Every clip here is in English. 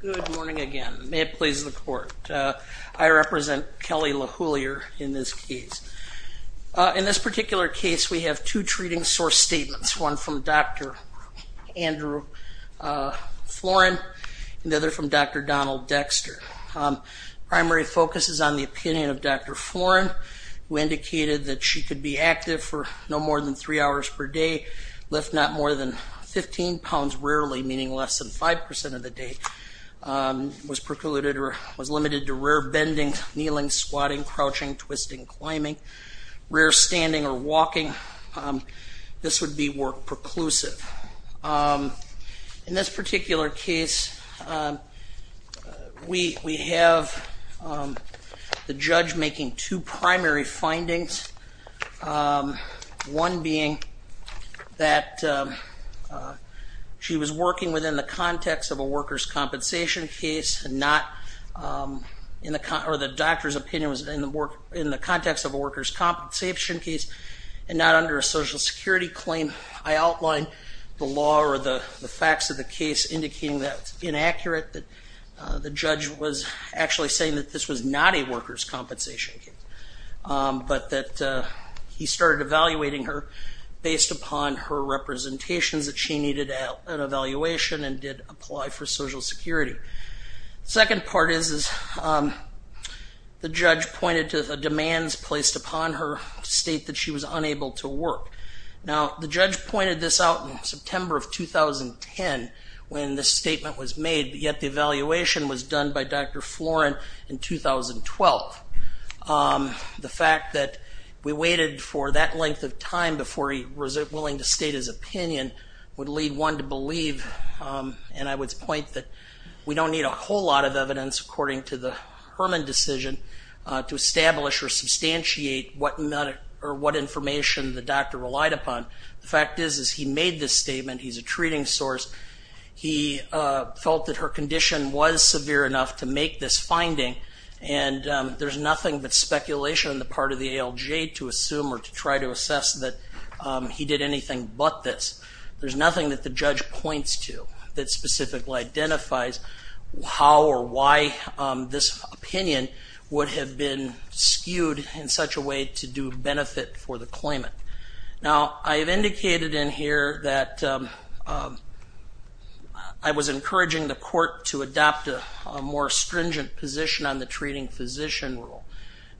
Good morning again. May it please the court. I represent Kelly Lehouillier in this case. In this particular case we have two treating source statements, one from Dr. Andrew Florin and the other from Dr. Donald Dexter. Primary focus is on the opinion of Dr. Florin who indicated that she could be active for no more than three hours per day, lift not more than 15 pounds rarely, meaning less than 5% of the day, was limited to rare bending, kneeling, squatting, crouching, twisting, climbing, rare standing or walking. This would be work preclusive. In this particular case we have the judge making two primary findings, one being that she was working within the context of a workers' compensation case and not in the context, or the doctor's opinion was in the context of a workers' compensation case and not under a social security claim. I outlined the law or the facts of the case indicating that it's inaccurate that the judge was actually saying that this was not a workers' compensation case, but that he started evaluating her based upon her representations that she needed an evaluation and did apply for social security. The second part is the judge pointed to the demands placed upon her to state that she was unable to work. Now the judge pointed this out in September of 2010 when this statement was made, yet the evaluation was done by Dr. Herman in 2012. The fact that we waited for that length of time before he was willing to state his opinion would lead one to believe, and I would point that we don't need a whole lot of evidence according to the Herman decision to establish or substantiate what information the doctor relied upon. The fact is, is he made this statement, he's a treating source, he felt that her condition was severe enough to make this finding, and there's nothing but speculation on the part of the ALJ to assume or to try to assess that he did anything but this. There's nothing that the judge points to that specifically identifies how or why this opinion would have been skewed in such a way to do benefit for the claimant. Now I have indicated in here that I was encouraging the court to adopt a more stringent position on the treating physician rule,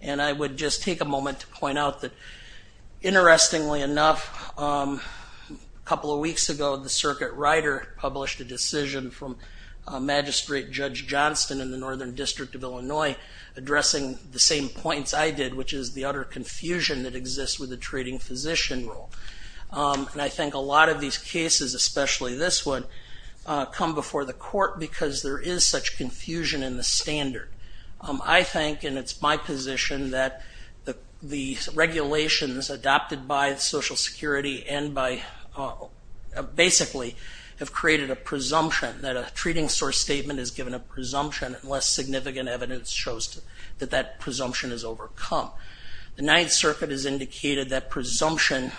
and I would just take a moment to point out that, interestingly enough, a couple of weeks ago the circuit writer published a decision from Magistrate Judge Johnston in the Northern District of Illinois addressing the same points I did, which is the utter confusion that exists with the treating physician rule. And I think a lot of these cases, especially this one, come before the court because there is such confusion in the standard. I think, and it's my position, that the regulations adopted by Social Security and by, basically, have created a presumption that a treating source statement is given a presumption unless significant evidence shows that that presumption is overcome. The Ninth Circuit has indicated that presumption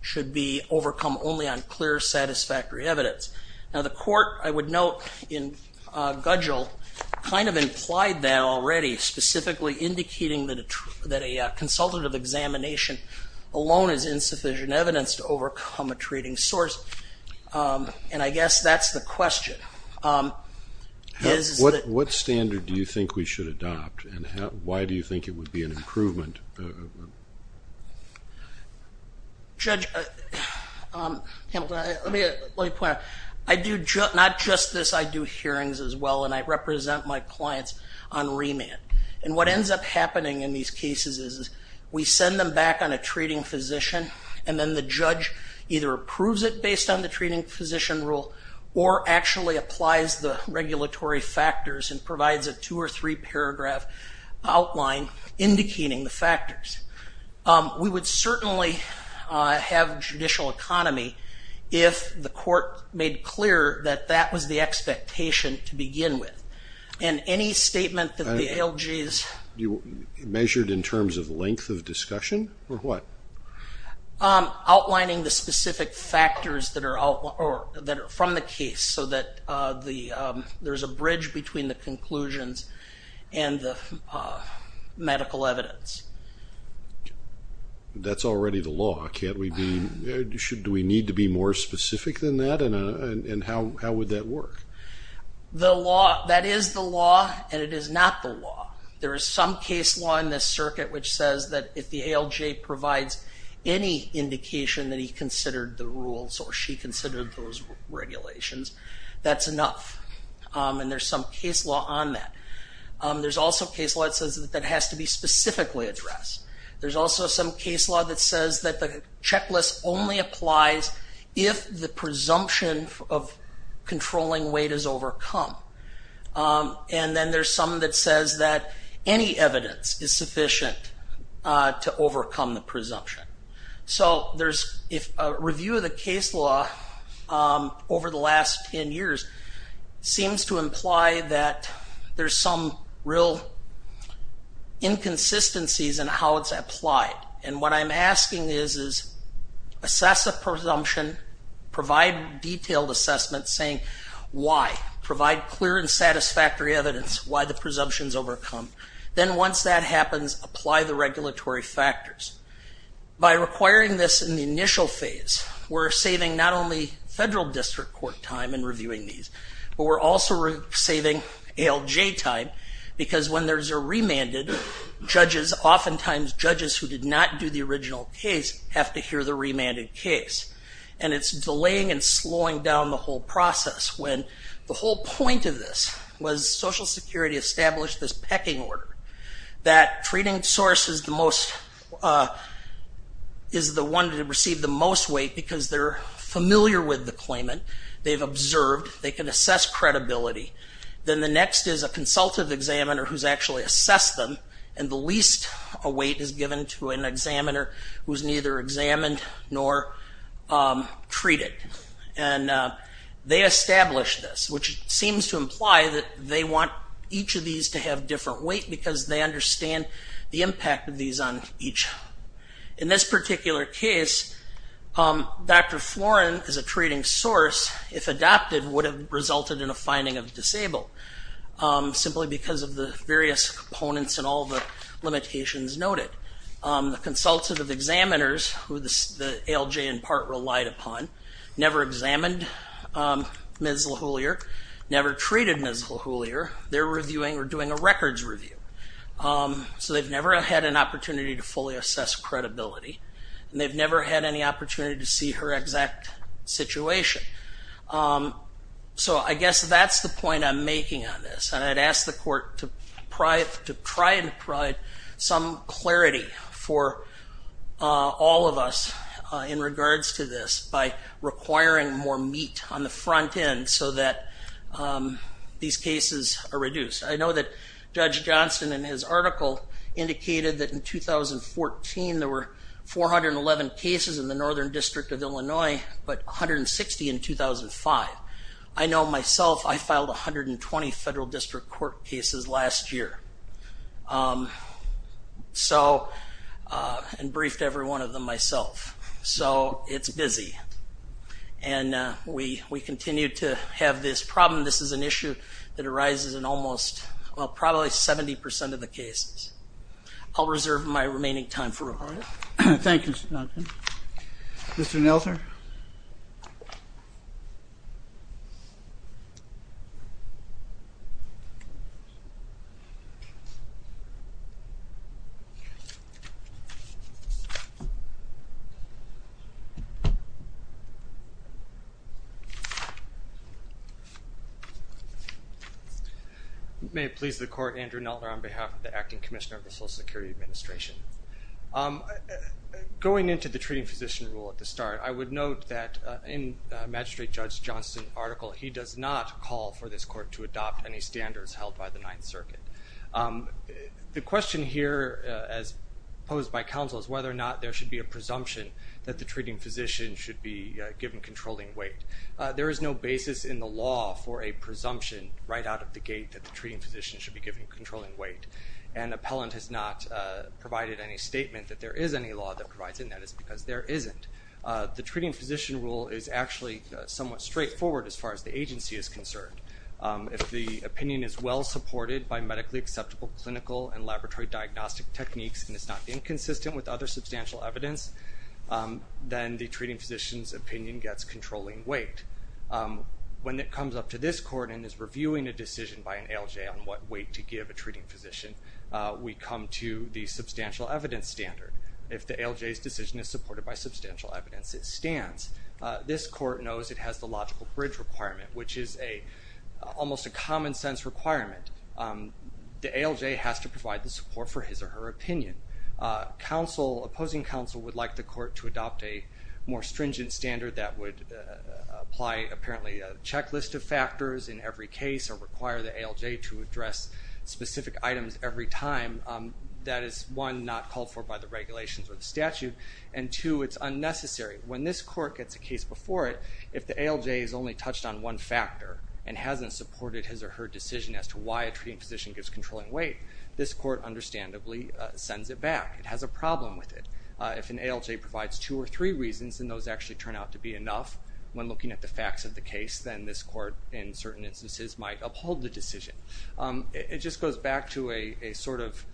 should be overcome only on clear, satisfactory evidence. Now the court, I would note, in Gudgell, kind of implied that already, specifically indicating that a consultative examination alone is insufficient evidence to overcome a treating source. What standard do you think we should adopt, and why do you think it would be an improvement? Judge Hamilton, let me point out, I do not just this, I do hearings as well, and I represent my clients on remand. And what ends up happening in these cases is we send them back on a treating physician, and then the judge either approves it based on the treating physician rule, or actually applies the regulatory factors and provides a two or three paragraph outline indicating the factors. We would certainly have judicial economy if the court made clear that that was the expectation to begin with. And any statement that the ALGs... You measured in terms of length of discussion, or what? Outlining the specific factors that are from the case, so that there's a bridge between the conclusions and the medical evidence. That's already the law, can't we be... Do we need to be more specific than that, and how would that work? That is the law, and it is not the law. There is some case law in this circuit which says that if the ALG provides any indication that he considered the rules, or she considered those regulations, that's enough. And there's some case law on that. There's also case law that says that has to be specifically addressed. There's also some case law that says that the checklist only applies if the presumption of controlling weight is overcome. And then there's some that says that any evidence is sufficient to overcome the presumption. So if a review of the case law over the last 10 years seems to imply that there's some real inconsistencies in how it's applied, and what I'm asking is, assess a presumption, provide detailed assessments saying why. Provide clear and satisfactory evidence why the presumption's overcome. Then once that happens, apply the regulatory factors. By requiring this in the initial phase, we're saving not only federal district court time in reviewing these, but we're also saving ALJ time, because when there's a remanded, judges, oftentimes judges who did not do the original case, have to hear the remanded case. And it's delaying and slowing down the whole process, when the whole point of this was Social Security established this pecking order, that treating source is the one to receive the most weight because they're familiar with the claimant, they've observed, they can assess credibility. Then the next is a consultative examiner who's actually assessed them, and the least weight is given to an examiner who's neither examined nor treated. And they established this, which seems to imply that they want each of these to have different weight, because they understand the impact of these on each. In this particular case, Dr. Florin, as a treating source, if adopted, would have resulted in a finding of disabled, simply because of the various components and all the limitations noted. The consultative examiners, who the ALJ in part relied upon, never examined Ms. LaHoolier, never treated Ms. LaHoolier, they're reviewing or doing a records review. So they've never had an opportunity to fully assess credibility, and they've never had any opportunity to see her exact situation. So I guess that's the point I'm making on this. And I'd ask the court to try and provide some clarity for all of us in regards to this by requiring more meat on the front end so that these cases are reduced. I know that Judge Johnson, in his article, indicated that in 2014, there were 411 cases in the Northern District of Illinois, but 160 in 2005. I know myself, I filed 120 federal district court cases last year. And briefed every one of them myself. So it's busy. And we continue to have this problem. This is an issue that arises in almost, well, probably 70% of the cases. I'll reserve my remaining time for report. Thank you, Mr. Nelson. Mr. Nelson? Thank you, Your Honor. May it please the court, Andrew Nelder on behalf of the Acting Commissioner of the Social Security Administration. Going into the treating physician rule at the start, I would note that in Magistrate Judge Johnson's article, he does not call for this court to adopt any standards held by the Ninth Circuit. The question here, as posed by counsel, is whether or not there should be a presumption that the treating physician should be given controlling weight. There is no basis in the law for a presumption right out of the gate that the treating physician should be given controlling weight. And appellant has not provided any statement that there is any law that provides it, and that is because there isn't. The treating physician rule is actually somewhat straightforward as far as the agency is concerned. If the opinion is well supported by medically acceptable clinical and laboratory diagnostic techniques and it's not inconsistent with other substantial evidence, then the treating physician's opinion gets controlling weight. When it comes up to this court and is reviewing a decision by an ALJ on what weight to give a treating physician, we come to the substantial evidence standard. If the ALJ's decision is supported by substantial evidence, it stands. This court knows it has the logical bridge requirement, which is almost a common sense requirement. The ALJ has to provide the support for his or her opinion. Opposing counsel would like the court to adopt a more stringent standard that would apply apparently a checklist of factors in every case or require the ALJ to address specific items every time. That is, one, not called for by the regulations or the statute, and two, it's unnecessary. When this court gets a case before it, if the ALJ has only touched on one factor and hasn't supported his or her decision as to why a treating physician gives controlling weight, this court understandably sends it back. It has a problem with it. If an ALJ provides two or three reasons and those actually turn out to be enough, when looking at the facts of the case, then this court, in certain instances, might uphold the decision. It just goes back to a sort of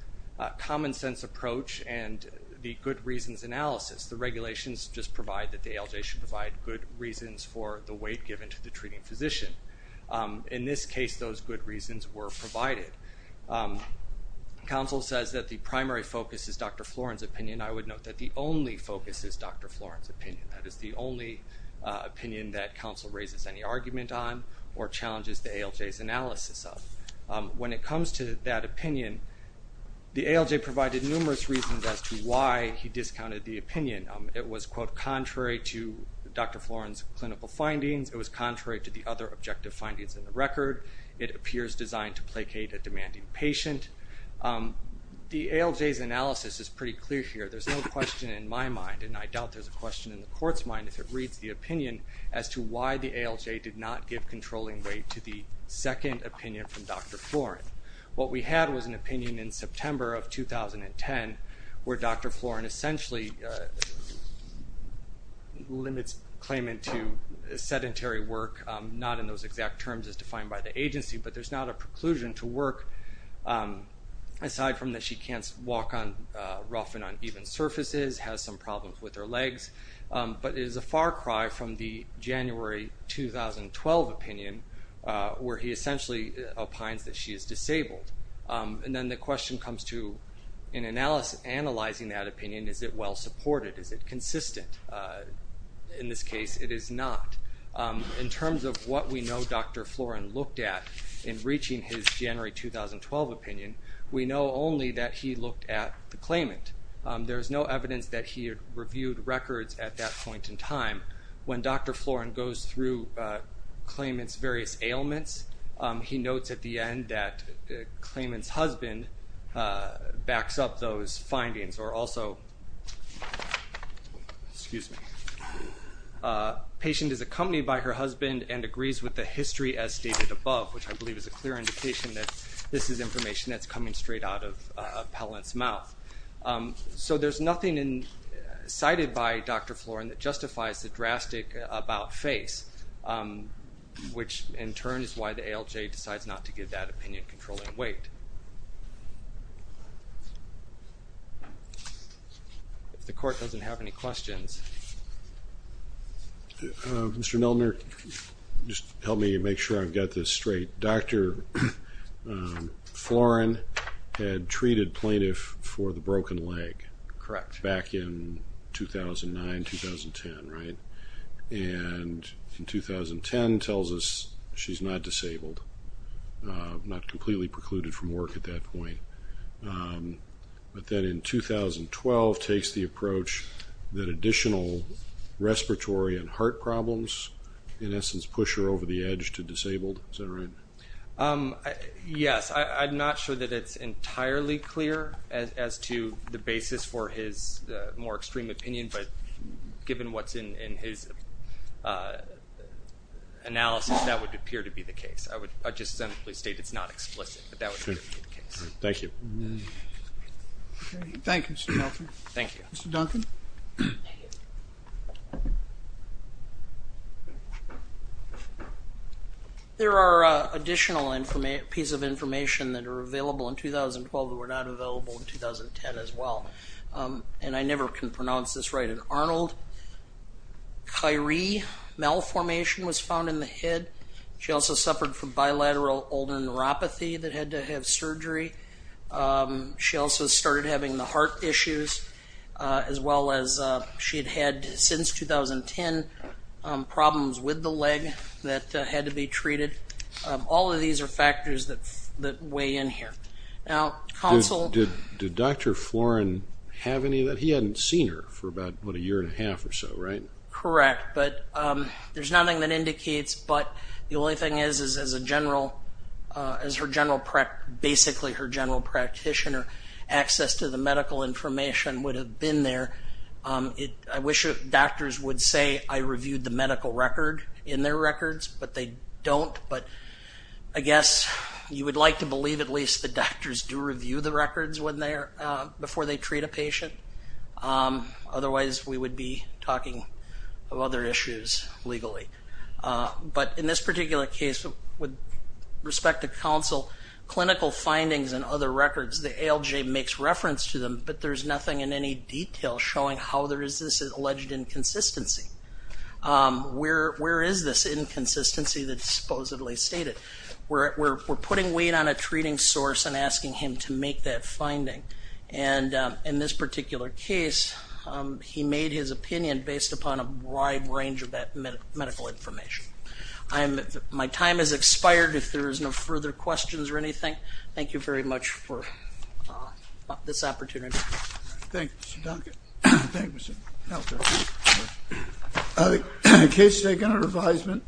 common sense approach and the good reasons analysis. The regulations just provide that the ALJ should provide good reasons for the weight given to the treating physician. In this case, those good reasons were provided. Counsel says that the primary focus is Dr. Florin's opinion. That is the only opinion that counsel raises any argument on or challenges the ALJ's analysis of. When it comes to that opinion, the ALJ provided numerous reasons as to why he discounted the opinion. It was, quote, contrary to Dr. Florin's clinical findings. It was contrary to the other objective findings in the record. It appears designed to placate a demanding patient. The ALJ's analysis is pretty clear here. There's no question in my mind, and I doubt there's a question in the court's mind, if it reads the opinion as to why the ALJ did not give controlling weight to the second opinion from Dr. Florin. What we had was an opinion in September of 2010 where Dr. Florin essentially limits claimant to sedentary work, not in those exact terms as defined by the agency, but there's not a preclusion to work, aside from that she can't walk rough and uneven surfaces, has some problems with her legs, but it is a far cry from the January 2012 opinion where he essentially opines that she is disabled. And then the question comes to, in analyzing that opinion, is it well supported? Is it consistent? In this case, it is not. In terms of what we know Dr. Florin looked at in reaching his January 2012 opinion, we know only that he looked at the claimant. There's no evidence that he reviewed records at that point in time. When Dr. Florin goes through claimant's various ailments, he notes at the end that the claimant's husband backs up those findings, or also, excuse me, patient is accompanied by her husband and agrees with the history as stated above, which I believe is a clear indication that this is information that's coming straight out of a pellant's mouth. So there's nothing cited by Dr. Florin that justifies the drastic about face, which in turn is why the ALJ decides not to give that opinion controlling weight. If the court doesn't have any questions. Mr. Milner, just help me make sure I've got this straight. Dr. Florin had treated plaintiff for the broken leg. Correct. Back in 2009, 2010, right? And in 2010 tells us she's not disabled, not completely precluded from work at that point. But then in 2012 takes the approach that additional respiratory and heart problems, in essence, push her over the edge to disabled. Is that right? Yes. I'm not sure that it's entirely clear as to the basis for his more extreme opinion, but given what's in his analysis, that would appear to be the case. I would just simply state it's not explicit, but that would appear to be the case. Thank you. Thank you, Mr. Milner. Thank you. Mr. Duncan. There are additional pieces of information that are available in 2012 that were not available in 2010 as well. And I never can pronounce this right. In Arnold, Kyrie malformation was found in the head. She also suffered from bilateral ulnar neuropathy that had to have surgery. She also started having the heart issues as well as she had had since 2010 problems with the leg that had to be treated. All of these are factors that weigh in here. Now, counsel. Did Dr. Florin have any of that? He hadn't seen her for about, what, a year and a half or so, right? Correct. There's nothing that indicates, but the only thing is, as her general practitioner, access to the medical information would have been there. I wish doctors would say, I reviewed the medical record in their records, but they don't. But I guess you would like to believe at least the doctors do review the records before they treat a patient. Otherwise, we would be talking of other issues legally. But in this particular case, with respect to counsel, clinical findings and other records, the ALJ makes reference to them, but there's nothing in any detail showing how there is this alleged inconsistency. Where is this inconsistency that's supposedly stated? We're putting weight on a treating source and asking him to make that finding. And in this particular case, he made his opinion based upon a wide range of medical information. My time has expired. If there is no further questions or anything, thank you very much for this opportunity. Thank you, Mr. Duncan. Thank you, Mr. Helter. Case taken under advisement.